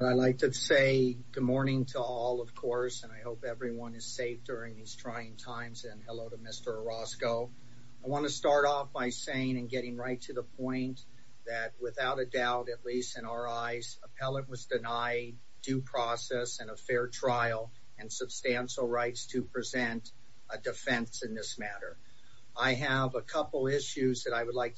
I'd like to say good morning to all of course and I hope everyone is safe during these trying times and hello to Mr. Orozco. I want to start off by saying and getting right to the point that without a doubt at least in our eyes appellate was denied due process and a fair trial and substantial rights to present a defense in this matter. I have a couple issues that I would like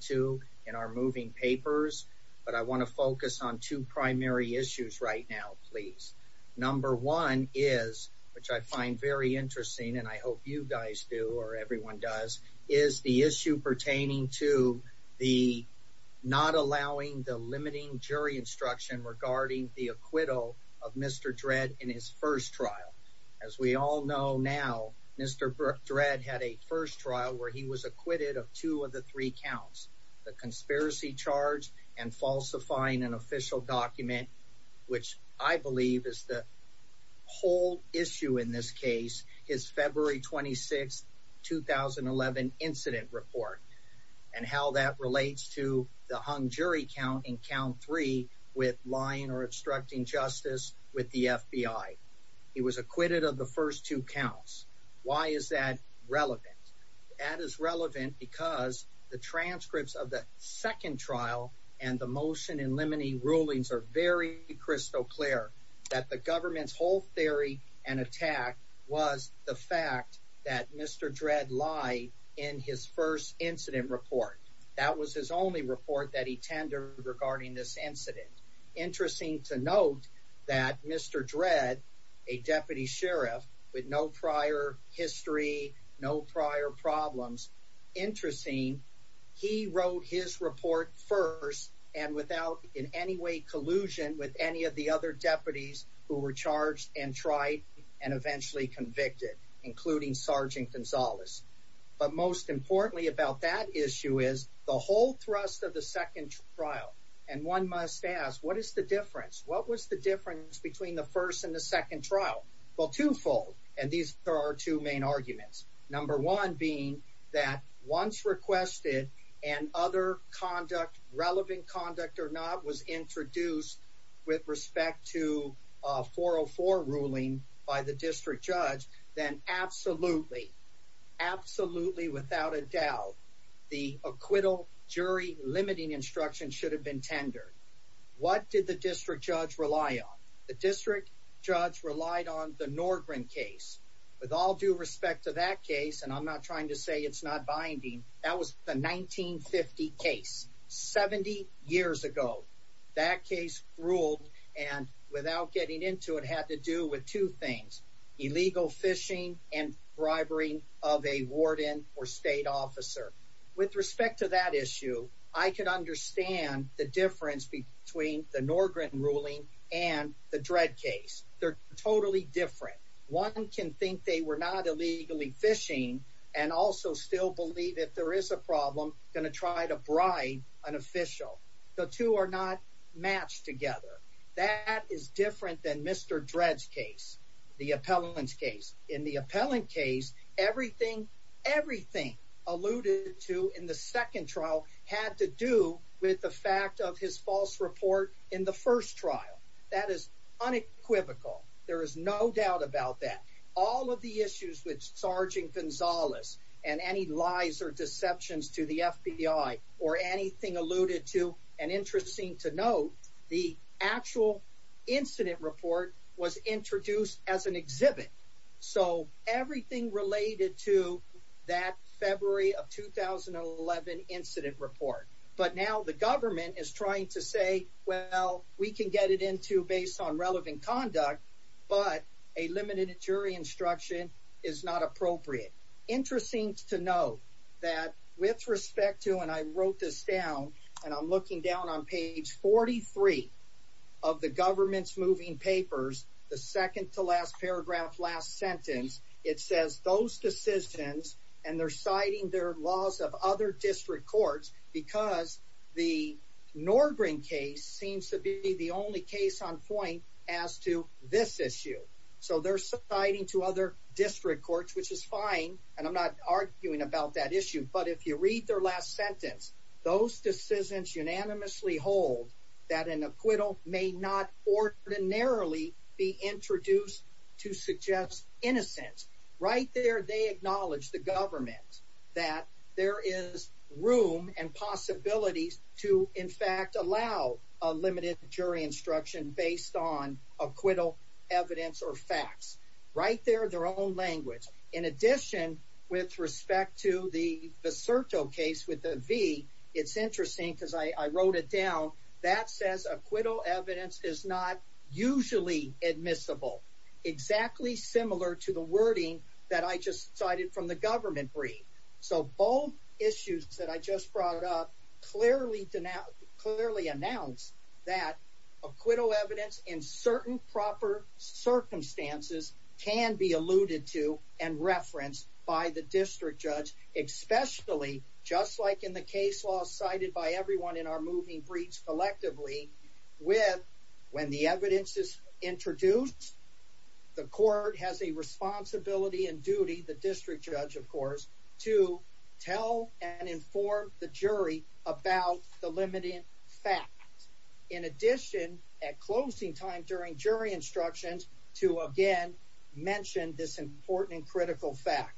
to in our moving papers but I want to focus on two primary issues right now please. Number one is which I find very interesting and I hope you guys do or everyone does is the issue pertaining to the not allowing the limiting jury instruction regarding the acquittal of Mr. Dredd in his first trial. As we all know now Mr. Dredd had a first trial where he was acquitted of two of the three counts the conspiracy charge and falsifying an official document which I believe is the whole issue in this case his February 26 2011 incident report and how that relates to the hung jury count in count three with lying or obstructing justice with the FBI. He was acquitted of the first two counts. Why is that relevant? That is relevant because the transcripts of the second trial and the motion in limiting rulings are very crystal clear that the government's whole theory and attack was the fact that Mr. Dredd lie in his first incident report. That was his only report that he no prior history no prior problems. Interesting he wrote his report first and without in any way collusion with any of the other deputies who were charged and tried and eventually convicted including Sergeant Gonzalez. But most importantly about that issue is the whole thrust of the second trial and one must ask what is the difference? What was the difference between the first and second trial? Well twofold and these are our two main arguments. Number one being that once requested and other conduct relevant conduct or not was introduced with respect to 404 ruling by the district judge then absolutely absolutely without a doubt the acquittal jury limiting instruction should have been tendered. What did the district judge rely on? The district judge relied on the Norgren case with all due respect to that case and I'm not trying to say it's not binding that was the 1950 case. 70 years ago that case ruled and without getting into it had to do with two things illegal phishing and bribery of a warden or state officer. With respect to that issue I could understand the difference between the Norgren ruling and the Dredd case. They're totally different. One can think they were not illegally phishing and also still believe if there is a problem going to try to bribe an official. The two are not matched together. That is different than Mr. Dredd's case, the appellant's case. In the appellant case everything everything alluded to in the second trial had to do with the fact of his false report in the first trial. That is unequivocal. There is no doubt about that. All of the issues with Sergeant Gonzalez and any lies or deceptions to the FBI or anything alluded to and interesting to note the actual incident report was introduced as an exhibit so everything related to that February of 2011 incident report but now the government is trying to say well we can get it into based on relevant conduct but a limited jury instruction is not appropriate. Interesting to note that with respect to and I wrote this down and I'm looking papers the second to last paragraph last sentence it says those decisions and they're citing their laws of other district courts because the Norgren case seems to be the only case on point as to this issue so they're citing to other district courts which is fine and I'm not arguing about that issue but if you read their last sentence those decisions unanimously hold that an acquittal may not ordinarily be introduced to suggest innocence right there they acknowledge the government that there is room and possibilities to in fact allow a limited jury instruction based on acquittal evidence or facts right there their own language in addition with respect to the evidence is not usually admissible exactly similar to the wording that I just cited from the government brief so both issues that I just brought up clearly denounce clearly announced that acquittal evidence in certain proper circumstances can be alluded to and referenced by the district judge especially just like in the case law cited by everyone in our moving breach collectively with when the evidence is introduced the court has a responsibility and duty the district judge of course to tell and inform the jury about the limiting fact in addition at closing time during jury instructions to again mention this important and critical fact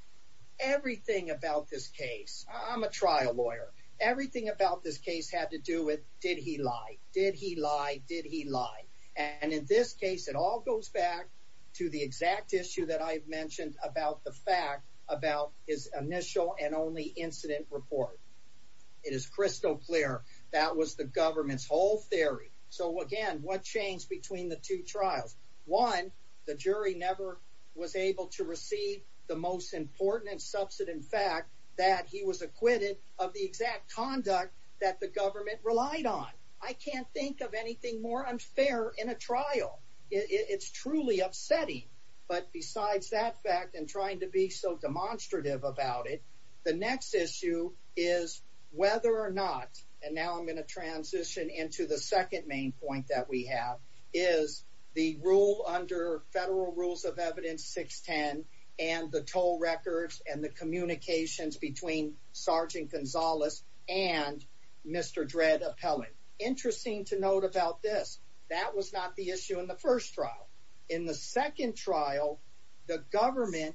everything about this case I'm a trial lawyer everything about this case had to do with did he lie did he lie did he lie and in this case it all goes back to the exact issue that I've mentioned about the fact about his initial and only incident report it is crystal clear that was the government's whole theory so again what changed between the two trials one the jury never was able to receive the most important and subsident fact that he was acquitted of the exact conduct that the government relied on I can't think of anything more unfair in a trial it's truly upsetting but besides that fact and trying to be so demonstrative about it the next issue is whether or not and now I'm going to transition into the second main point that we have is the rule under federal rules of the toll records and the communications between Sergeant Gonzalez and Mr. Dredd appellate interesting to note about this that was not the issue in the first trial in the second trial the government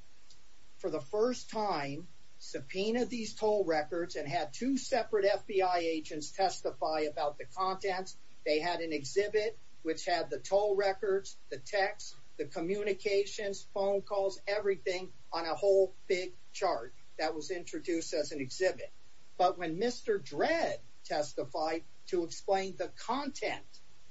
for the first time subpoenaed these toll records and had two separate FBI agents testify about the contents they had an exhibit which had the toll records the text the communications phone calls everything on a whole big chart that was introduced as an exhibit but when Mr. Dredd testified to explain the content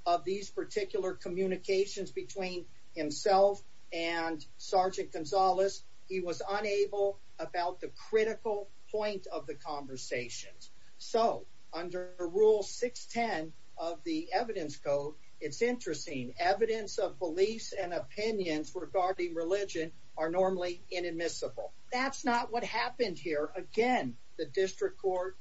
of these particular communications between himself and Sergeant Gonzalez he was unable about the critical point of the conversations so under rule 610 of the evidence code it's interesting evidence of beliefs and opinions regarding religion are normally inadmissible that's not what happened here again the district court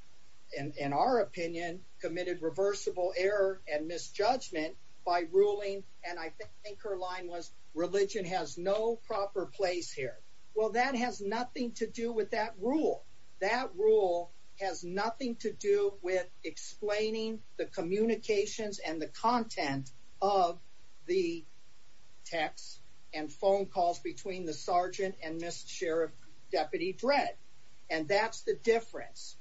and in our opinion committed reversible error and misjudgment by ruling and I think her line was religion has no proper place here well that has nothing to do with that rule that rule has nothing to do with explaining the communications and the content of the text and phone calls between the sergeant and Mr. Sheriff Deputy Dredd and that's the difference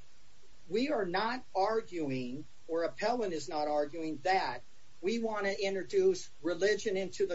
we are not arguing or appellant is not arguing that we want to introduce religion into the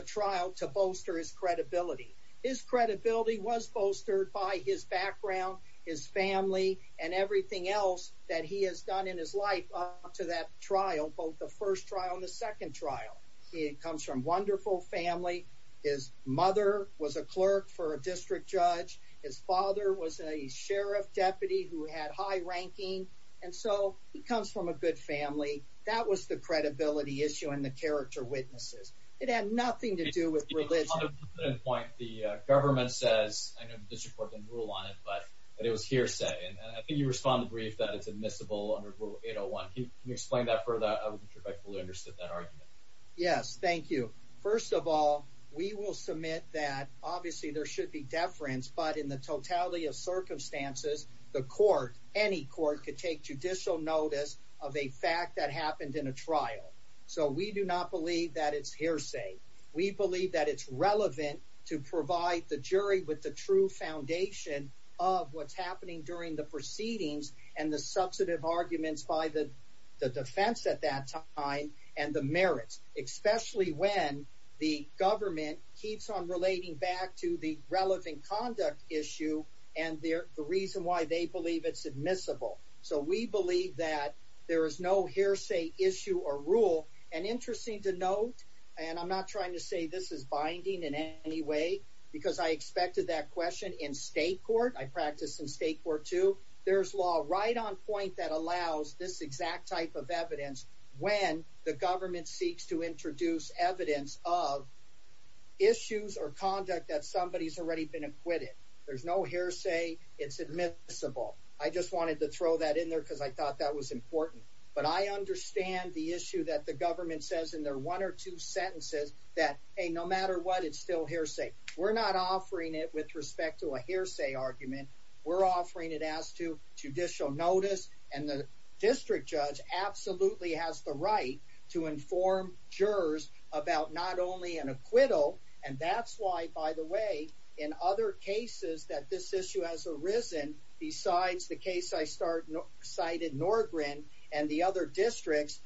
everything else that he has done in his life up to that trial both the first trial and the second trial he comes from wonderful family his mother was a clerk for a district judge his father was a sheriff deputy who had high ranking and so he comes from a good family that was the credibility issue and the character witnesses it had nothing to do with religion the government says I know the district court didn't rule on it but it was hearsay and I think you respond to the brief that it's admissible under rule 801 can you explain that further I would be grateful to understand that argument yes thank you first of all we will submit that obviously there should be deference but in the totality of circumstances the court any court could take judicial notice of a fact that happened in a trial so we do not believe that it's hearsay we believe that it's relevant to provide the jury with the true foundation of what's happening during the proceedings and the substantive arguments by the the defense at that time and the merits especially when the government keeps on relating back to the relevant conduct issue and the reason why they believe it's admissible so we believe that there is no hearsay issue or rule and interesting to note and I'm not trying to say this is binding in any way because I expected that question in state court I practice in state court too there's law right on point that allows this exact type of evidence when the government seeks to introduce evidence of issues or conduct that somebody's already been acquitted there's no hearsay it's admissible I just wanted to throw that in there because I thought that was important but I understand the issue that the government says in their one or two sentences that hey no matter what it's still hearsay we're not offering it with respect to a hearsay argument we're offering it as to judicial notice and the district judge absolutely has the right to inform jurors about not only an acquittal and that's why by the way in other cases that this issue has arisen besides the case I started cited nor grin and the other districts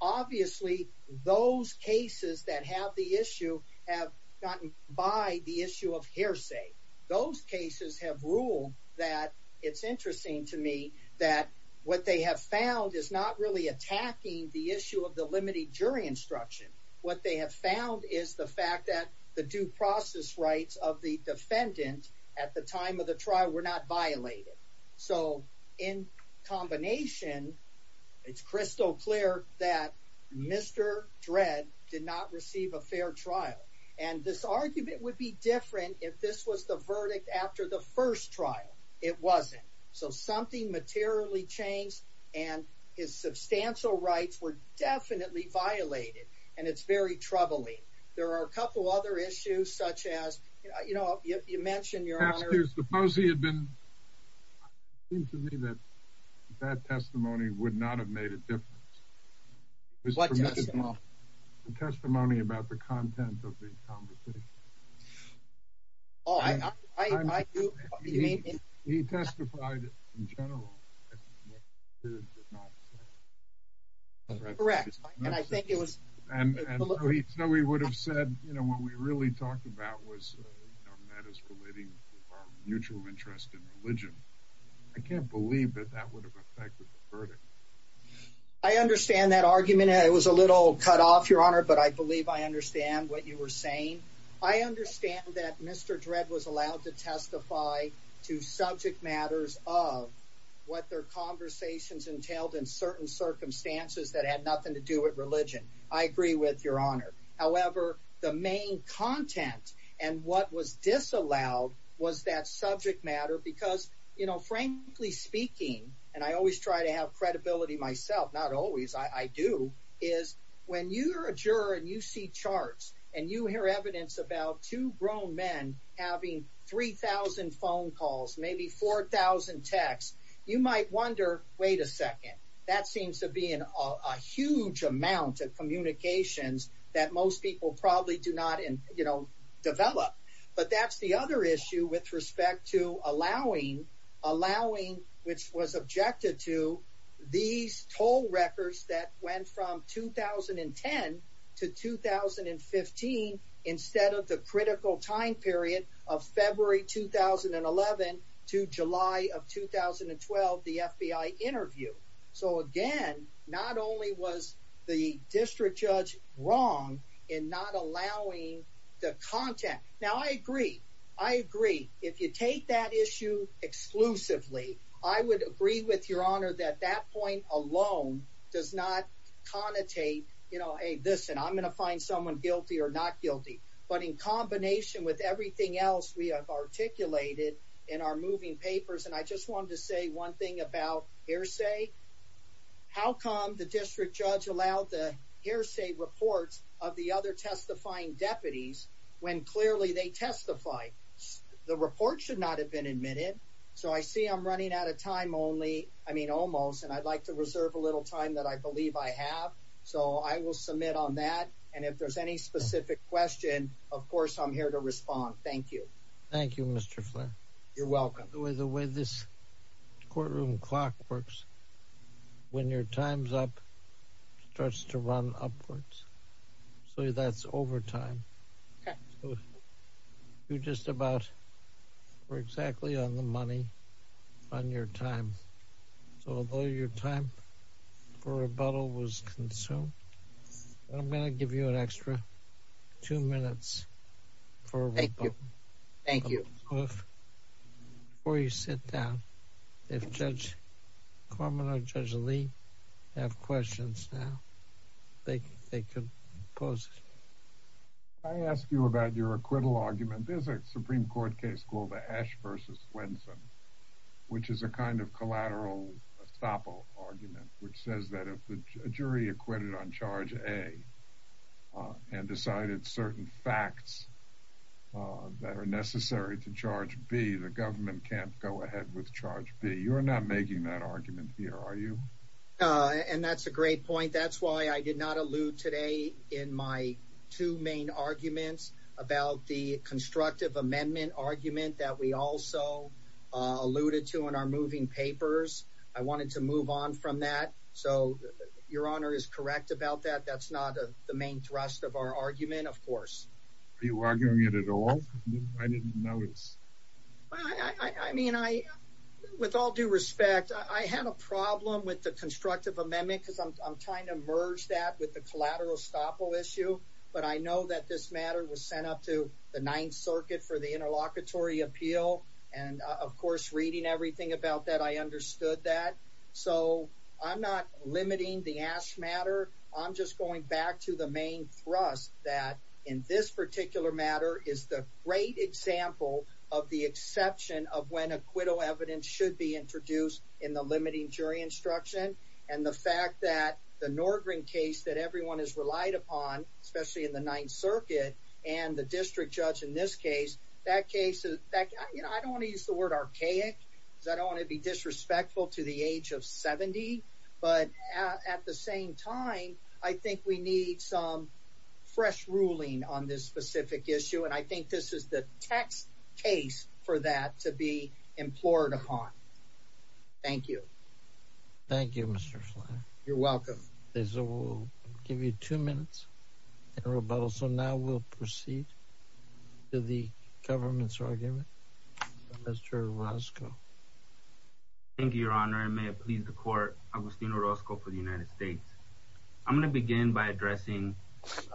obviously those cases that have the issue have gotten by the issue of hearsay those cases have ruled that it's interesting to me that what they have found is not really attacking the issue of the limited jury instruction what they have found is the fact that the due process rights of the defendant at the time of the trial were not violated so in combination it's crystal clear that mr dread did not receive a fair trial and this argument would be different if this was the verdict after the first trial it wasn't so something materially changed and his substantial rights were definitely violated and it's very troubling there are a few other issues such as you know you mentioned your honor suppose he had been it seems to me that that testimony would not have made a difference the testimony about the content of the conversation oh i i i do you mean he testified in general period did not correct and i think it was and so he so he would have said you know what we really talked about was you know that is relating to our mutual interest in religion i can't believe that that would have affected the verdict i understand that argument it was a little cut off your honor but i believe i understand what you were saying i understand that mr dread was allowed to testify to subject matters of what their conversations entailed in certain circumstances that had nothing to do with religion i agree with your honor however the main content and what was disallowed was that subject matter because you know frankly speaking and i always try to have credibility myself not always i do is when you're a juror and you see charts and you hear evidence about two grown men having 3 000 phone calls maybe 4 000 texts you might wonder wait a second that seems to be in a huge amount of communications that most people probably do not in you know develop but that's the other issue with respect to allowing allowing which was objected to these toll records that went from 2010 to 2015 instead of the critical time period of february 2011 to july of 2012 the fbi interview so again not only was the district judge wrong in not allowing the content now i agree i agree if you take that issue exclusively i would agree with your honor that that point alone does not connotate you know hey listen i'm gonna find someone guilty or not guilty but in combination with everything else we have articulated in our moving papers and i just wanted to say one thing about hearsay how come the district judge allowed the hearsay reports of the other testifying deputies when clearly they testified the report should not have been admitted so i see i'm running out of time only i mean almost and i'd like to reserve a little time that i believe i have so i will submit on that and if there's any specific question of course i'm here to respond thank you thank you mr flair you're welcome the way the way this courtroom clock works when your time's up starts to run upwards so that's over time so you just about were exactly on the money on your time so although your time for rebuttal was consumed i'm going to give you an extra two minutes for thank you thank you well if before you sit down if judge carmen or judge lee have questions now they they could pose i ask you about your acquittal argument there's a supreme court case called the ash versus wenson which is a kind of collateral estoppel argument which says that if a jury acquitted on charge a and decided certain facts that are necessary to charge b the government can't go ahead with charge b you're not making that argument here are you and that's a great point that's why i did not allude today in my two main arguments about the constructive amendment argument that we also alluded to in our moving papers i wanted to your honor is correct about that that's not a the main thrust of our argument of course are you arguing it at all i didn't notice i i mean i with all due respect i had a problem with the constructive amendment because i'm trying to merge that with the collateral estoppel issue but i know that this matter was sent up to the ninth circuit for the interlocutory appeal and of course reading everything about that i understood that so i'm not limiting the ash matter i'm just going back to the main thrust that in this particular matter is the great example of the exception of when acquittal evidence should be introduced in the limiting jury instruction and the fact that the norgren case that everyone has relied upon especially in the ninth circuit and the district judge in this case that case is that you know i don't want to use the word archaic because i don't want to be disrespectful to the age of 70 but at the same time i think we need some fresh ruling on this specific issue and i think this is the text case for that to be implored upon thank you thank you mr you're welcome so we'll give you two minutes in rebuttal so now we'll proceed to the government's argument mr roscoe thank you your honor and may it please the court agustino roscoe for the united states i'm going to begin by addressing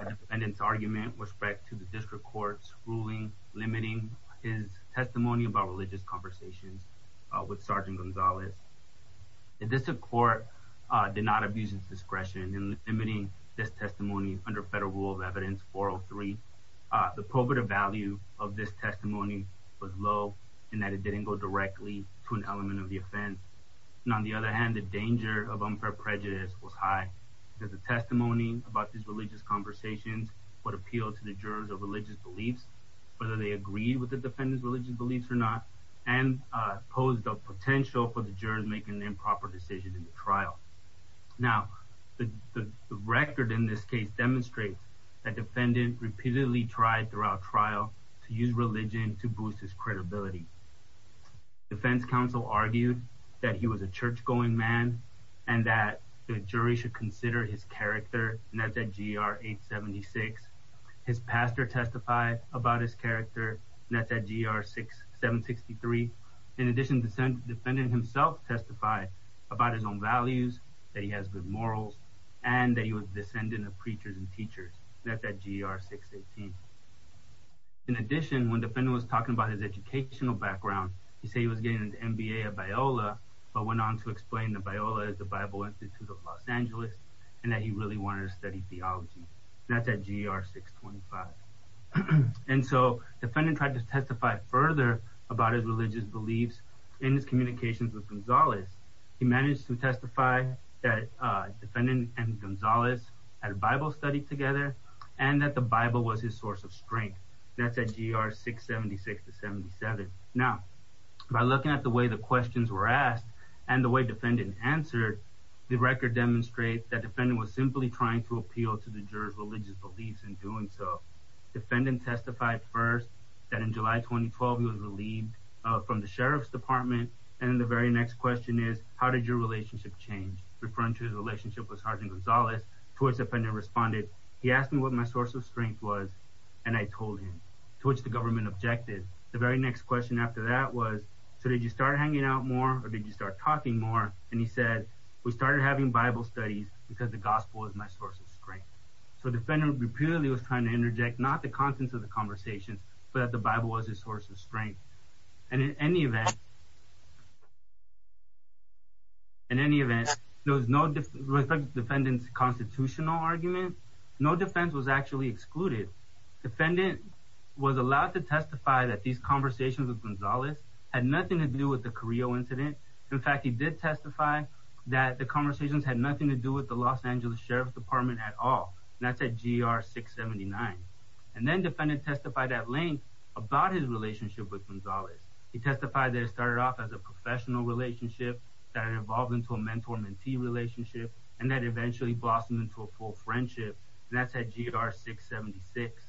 a defendant's argument with respect to the district court's ruling limiting his testimony about religious conversations uh with sergeant gonzalez the district court uh did not abuse its discretion in emitting this testimony under federal rule of evidence 403 uh the pulpit value of this testimony was low and that it didn't go directly to an element of the offense and on the other hand the danger of unfair prejudice was high because the testimony about these religious conversations would appeal to the jurors of religious beliefs whether they agreed with the defendant's religious beliefs or not and uh posed a potential for the jurors making improper decisions in the trial now the record in this case demonstrates that defendant repeatedly tried throughout trial to use religion to boost his credibility defense counsel argued that he was a church-going man and that the jury should consider his character and that's at gr 876 his pastor testified about his character and that's at gr 6763 in addition the defendant himself testified about his own values that he has good morals and that he was descendant of preachers and teachers that's at gr 618. in addition when defendant was talking about his educational background he said he was getting an mba at biola but went on to explain that biola is the bible institute of los angeles and that he really wanted to study theology that's at gr 625 and so defendant tried to testify further about his religious beliefs in his communications with gonzalez he managed to testify that uh defendant and gonzalez had a bible study together and that the bible was his source of strength that's at gr 676 to 77. now by looking at the way the questions were asked and the way defendant answered the record demonstrates that defendant was simply trying to appeal to the jurors religious beliefs in doing so. defendant testified first that in july 2012 he was relieved from the sheriff's department and the very next question is how did your relationship change referring to his relationship with sergeant gonzalez to which the defendant responded he asked me what my source of strength was and i told him to which the or did you start talking more and he said we started having bible studies because the gospel was my source of strength so the defendant repeatedly was trying to interject not the contents of the conversation but that the bible was his source of strength and in any event in any event there was no different defendants constitutional argument no defense was actually excluded defendant was allowed to testify that these conversations with in fact he did testify that the conversations had nothing to do with the los angeles sheriff's department at all that's at gr 679 and then defendant testified at length about his relationship with gonzalez he testified that it started off as a professional relationship that it evolved into a mentor mentee relationship and that eventually blossomed into a full friendship and that's at gr 676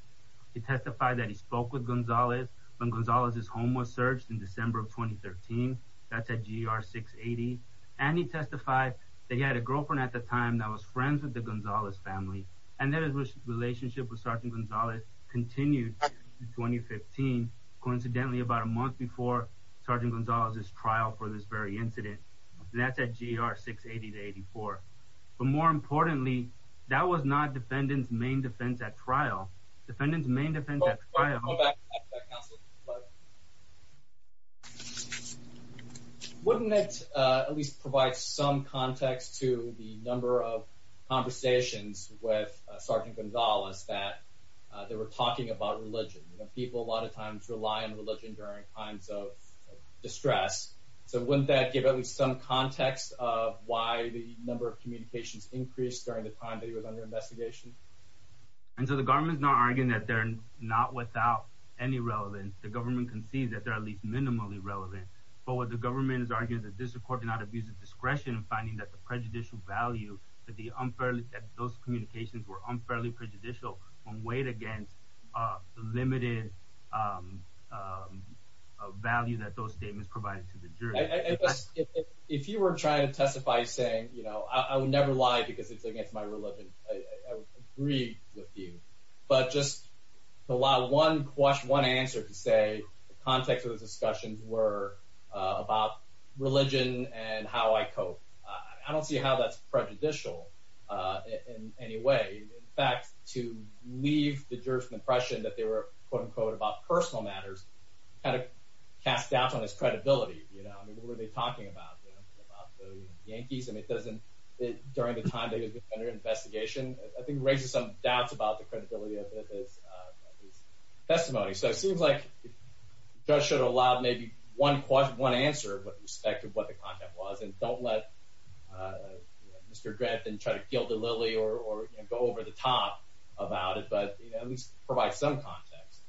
he testified that he spoke with gonzalez when gonzalez's home was searched in december of 2013 that's at gr 680 and he testified that he had a girlfriend at the time that was friends with the gonzalez family and that his relationship with sergeant gonzalez continued in 2015 coincidentally about a month before sergeant gonzalez's trial for this very incident that's at gr 680 to 84 but more importantly that was not defendant's main defense at trial defendant's main defense wouldn't it uh at least provide some context to the number of conversations with sergeant gonzalez that they were talking about religion you know people a lot of times rely on religion during times of distress so wouldn't that give at least some context of why the number of communications increased during the time that he was under investigation and so the government is not arguing that they're not without any relevance the government can see that they're at least minimally relevant but what the government is arguing that this accord did not abuse of discretion and finding that the prejudicial value that the unfairly that those communications were unfairly prejudicial on weight against uh limited um um value that those statements provided to the jury if you were trying to testify saying you know i would never lie because it's against my religion i would agree with you but just allow one question one answer to say the context of the discussions were uh about religion and how i cope i don't see how that's prejudicial uh in any way in fact to leave the jurors impression that they were quote unquote about personal matters kind of cast doubt on his credibility you know i mean what were they talking about the yankees and it doesn't it during the time that he was under investigation i think raises some doubts about the credibility of his uh testimony so it seems like judge should have allowed maybe one question one answer with respect to what the content was and don't let uh mr grant and try to kill the lily or or go over the top about it but you know at least provide some context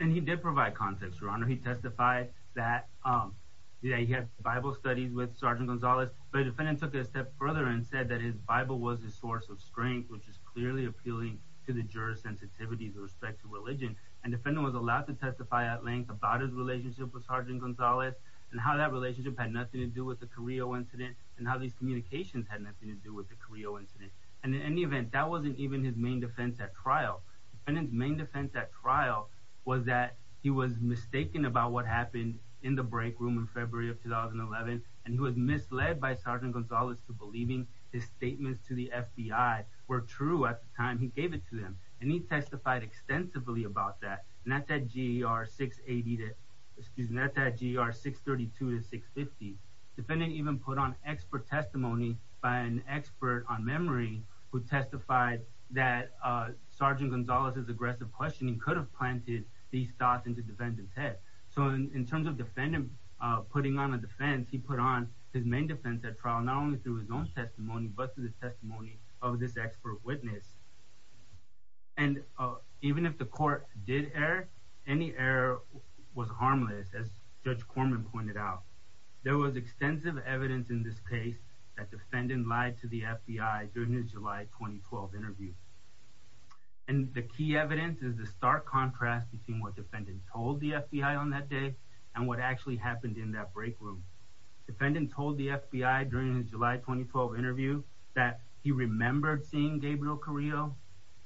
and he did provide context your honor he testified that um yeah he had bible studies with sergeant gonzalez but the defendant took it a step further and said that his bible was his source of strength which is clearly appealing to the juror's sensitivity with respect to religion and defendant was allowed to testify at length about his relationship with sergeant gonzalez and how that relationship had nothing to do with the career incident and how these communications had nothing to do with the career incident and in any event that wasn't even his main defense at trial and his main defense at trial was that he was mistaken about what happened in the break room in february of 2011 and he was misled by sergeant gonzalez to believing his statements to the fbi were true at the time he gave it to them and he testified extensively about that and at that ger 680 to excuse me at that gr 632 to 650 defendant even put on expert testimony by an expert on memory who testified that uh sergeant gonzalez's aggressive questioning could have planted these thoughts into defendant's head so in terms of defendant uh putting on a defense he put on his main defense at trial not only through his own testimony but through the testimony of this expert witness and uh even if the court did error any error was harmless as judge corman pointed out there was extensive evidence in this case that defendant lied to the fbi during his july 2012 interview and the key evidence is the stark contrast between what defendant told the fbi on that day and what actually happened in that break room defendant told the fbi during his july 2012 interview that he remembered seeing gabriel carillo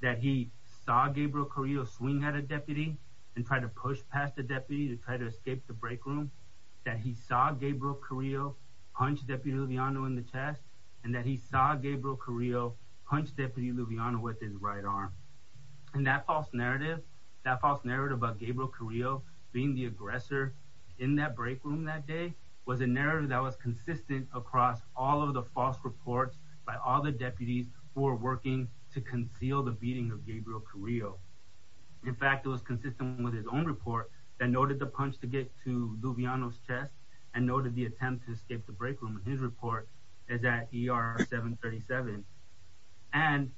that he saw gabriel carillo swing at a deputy and try to push past the deputy to try to escape the break room that he saw gabriel carillo punch deputy luviano in the chest and that he saw gabriel carillo punch deputy luviano with his right arm and that false narrative that false narrative about gabriel carillo being the aggressor in that break room that day was a narrative that was consistent across all of the false reports by all the deputies who are working to conceal the beating of gabriel carillo in fact it was consistent with his own report that noted the punch to get to luviano's chest and noted the attempt to escape the break room his report is at er 737 and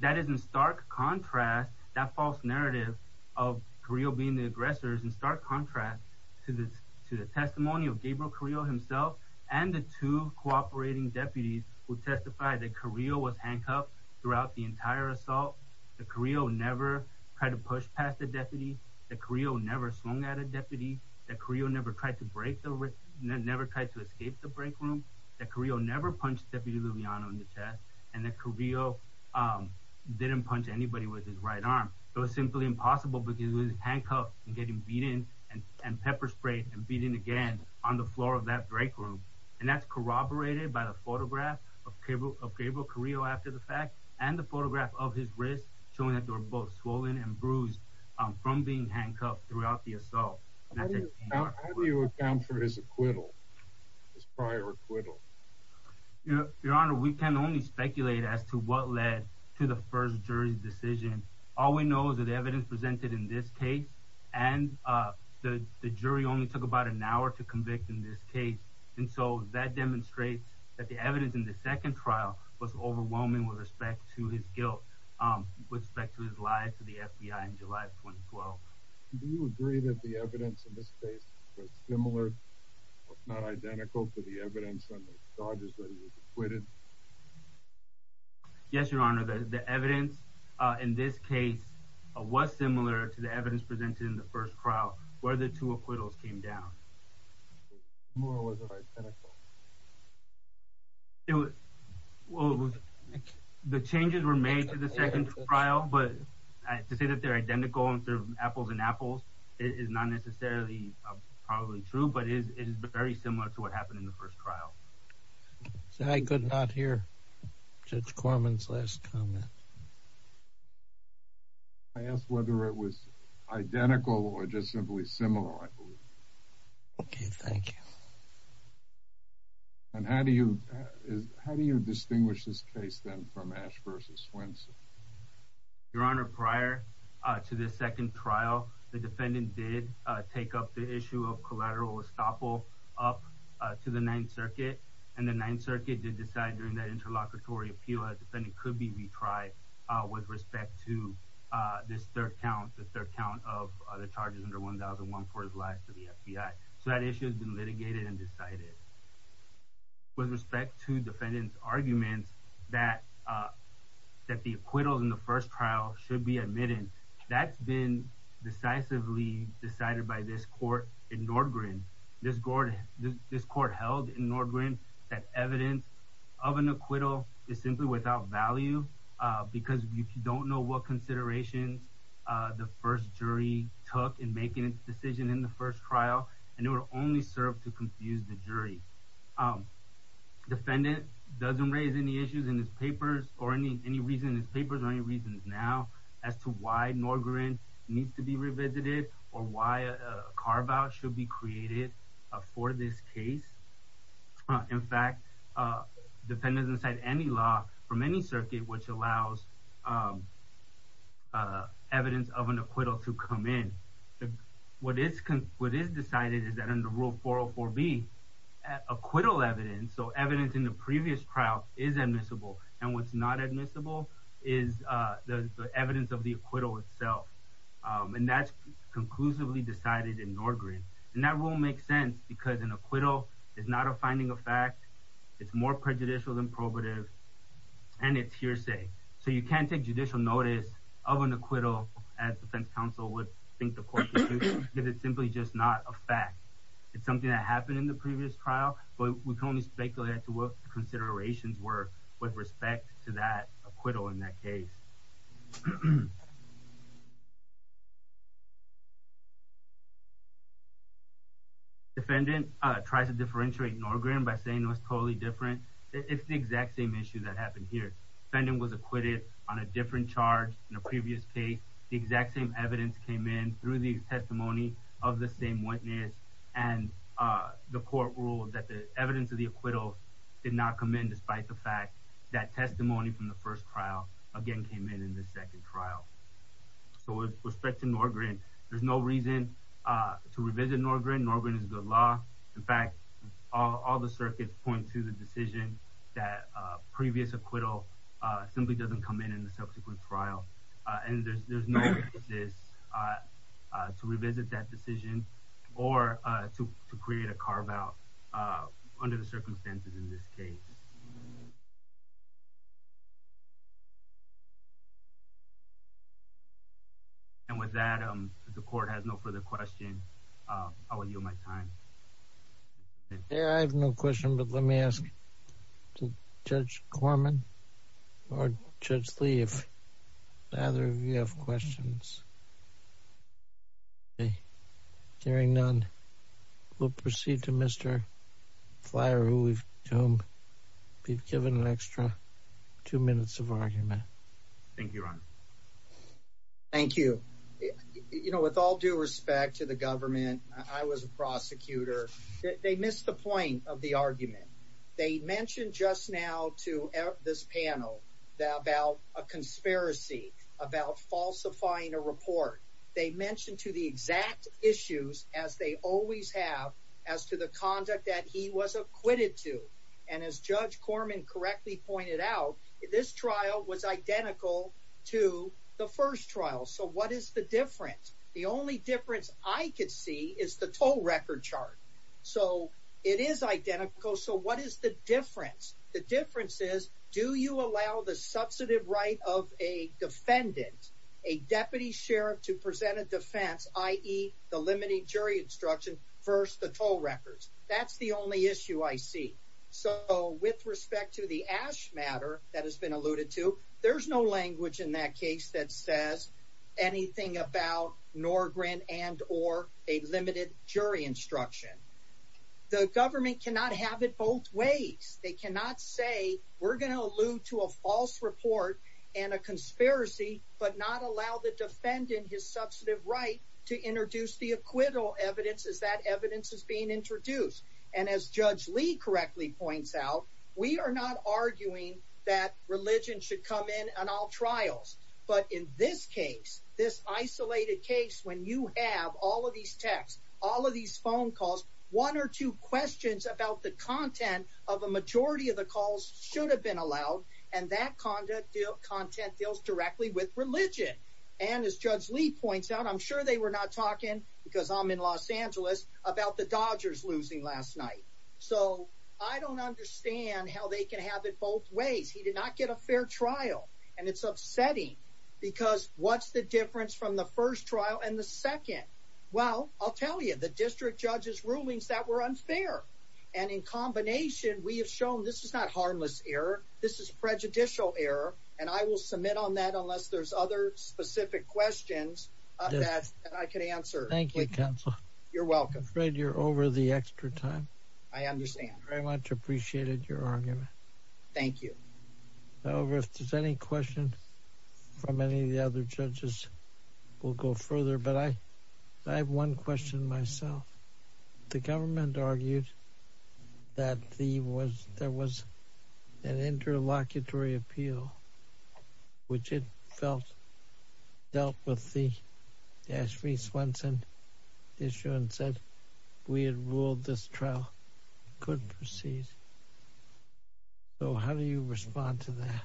that is in stark contrast that false narrative of carillo being the aggressors in stark contrast to this to the testimony of gabriel carillo himself and the two cooperating deputies who testify that carillo was handcuffed throughout the entire assault that carillo never tried to push past the deputy that carillo never swung at a deputy that carillo never tried to break the risk never tried to escape the break room that carillo never punched deputy luviano in the chest and that carillo um didn't punch anybody with his right arm it was simply impossible because he was handcuffed and getting beaten and pepper sprayed and beating again on the floor of that break room and that's corroborated by the photograph of cable of gabriel carillo after the fact and the photograph of his wrist showing that they were both swollen and bruised um from being handcuffed throughout the assault how do you account for his acquittal his prior acquittal you know your honor we can only speculate as to what led to the first jury's decision all we know is that the evidence presented in this case and uh the the jury only took about an hour to convict in this case and so that demonstrates that the evidence in the second trial was overwhelming with respect to his guilt um with respect to his life to the fbi in july 2012 do you agree that the evidence in this case was similar if not identical to the evidence on the charges that he was acquitted yes your honor the the evidence uh in this case was similar to the evidence presented in the first trial where the two acquittals came down more or was it identical it was well the changes were made to the second trial but to say that they're identical and they're apples and apples it is not necessarily probably true but it is very similar to what happened in the first trial so i could not hear judge corman's last comment i asked whether it was identical or just simply similar i believe okay thank you and how do you how do you distinguish this case then from ash versus swenson your honor prior uh to the second trial the defendant did uh take up the issue of collateral up to the ninth circuit and the ninth circuit did decide during that interlocutory appeal that defendant could be retried uh with respect to uh this third count the third count of the charges under 1001 for his life to the fbi so that issue has been litigated and decided with respect to defendant's arguments that uh that the acquittals in the first trial should be admitted that's been decisively decided by this court in nordgreen this gordon this court held in nordgreen that evidence of an acquittal is simply without value uh because if you don't know what considerations uh the first jury took in making its decision in the first trial and it would only serve to confuse the jury um defendant doesn't raise any issues in his papers or any any reason his papers are any reasons now as to why nordgreen needs to be revisited or why a carve-out should be created for this case in fact uh defendant's inside any law from any circuit which allows um uh evidence of an acquittal to come in what is what is decided is that in the not admissible is uh the evidence of the acquittal itself um and that's conclusively decided in nordgreen and that rule makes sense because an acquittal is not a finding of fact it's more prejudicial than probative and it's hearsay so you can't take judicial notice of an acquittal as defense counsel would think the court because it's simply just not a fact it's something that happened in the previous trial but we can only speculate to what the that acquittal in that case defendant tries to differentiate nordgreen by saying it was totally different it's the exact same issue that happened here defendant was acquitted on a different charge in a previous case the exact same evidence came in through the testimony of the same witness and uh the court ruled that the evidence of the acquittal did not come in despite the fact that testimony from the first trial again came in in the second trial so with respect to nordgreen there's no reason uh to revisit nordgreen nordgreen is good law in fact all the circuits point to the decision that uh previous acquittal uh simply doesn't come in in the subsequent trial uh and there's there's no this uh uh to revisit that decision or uh to to create a carve out uh under the circumstances in this case and with that um the court has no further question uh i will yield my time yeah i have no question but let me ask judge corman or judge lee if either of you have questions hearing none we'll proceed to mr flyer who we've to whom we've given an extra two minutes of argument thank you ron thank you you know with all due respect to the government i was a prosecutor they missed the point of the argument they mentioned just now to this panel about a conspiracy about falsifying a report they mentioned to the exact issues as they always have as to the conduct that he was acquitted to and as judge corman correctly pointed out this trial was identical to the first trial so what is the difference the only difference i could see is the toll record chart so it is identical so what is the difference the difference is do you allow the substantive right of a defendant a deputy sheriff to present a defense i.e the limited jury instruction first the toll records that's the only issue i see so with respect to the ash matter that has been alluded to there's no language in that case that says anything about nor grin and or a limited jury instruction the government cannot have it both ways they cannot say we're going to allude to a false report and a conspiracy but not allow the defendant his substantive right to introduce the acquittal evidence as that evidence is being introduced and as judge lee correctly points out we are not arguing that religion should come in on all trials but in this case this isolated case when you have all of these texts all of these phone calls one or two questions about the content of a majority of the calls should have been allowed and that conduct deal content deals directly with religion and as judge lee points out i'm sure they were not talking because i'm in los angeles about the dodgers losing last night so i don't understand how they can have it both ways he did not get a fair trial and it's upsetting because what's the difference from the first trial and the second well i'll tell you the district judge's rulings that were unfair and in combination we have shown this is not harmless error this is prejudicial error and i will submit on that unless there's other specific questions that i could answer thank you counsel you're welcome i'm afraid you're over the extra time i understand very much appreciated your argument thank you however if there's any question from any of the other judges we'll go further but i i have one question myself the government argued that the was there was an interlocutory appeal which it felt dealt with the ashley swenson issue and said we had ruled this couldn't proceed so how do you respond to that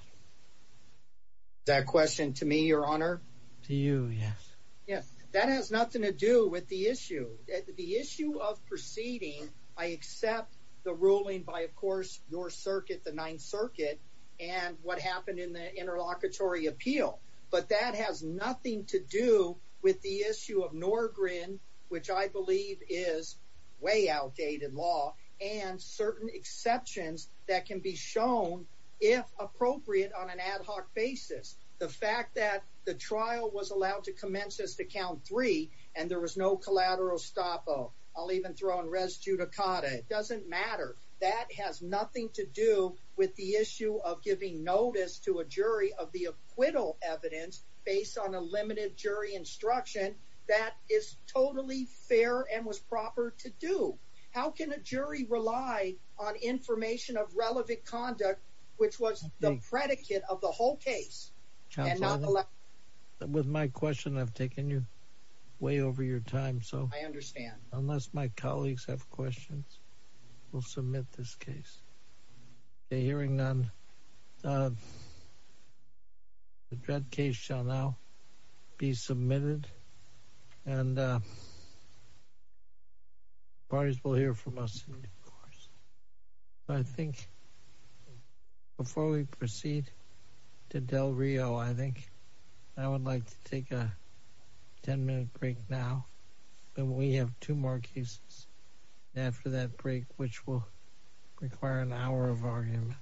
that question to me your honor to you yes yes that has nothing to do with the issue the issue of proceeding i accept the ruling by of course your circuit the ninth circuit and what happened in the interlocutory appeal but that has nothing to do with the issue of nor grin which i believe is way outdated law and certain exceptions that can be shown if appropriate on an ad hoc basis the fact that the trial was allowed to commence as to count three and there was no collateral stop oh i'll even throw in res judicata it doesn't matter that has nothing to do with the issue of giving notice to a jury of the acquittal evidence based on a limited jury instruction that is totally fair and was proper to do how can a jury rely on information of relevant conduct which was the predicate of the whole case with my question i've taken you way over your time so i understand unless my colleagues have questions we'll submit this case okay hearing none the dread case shall now be submitted and uh parties will hear from us of course i think before we proceed to del rio i think i would after that break which will require an hour of argument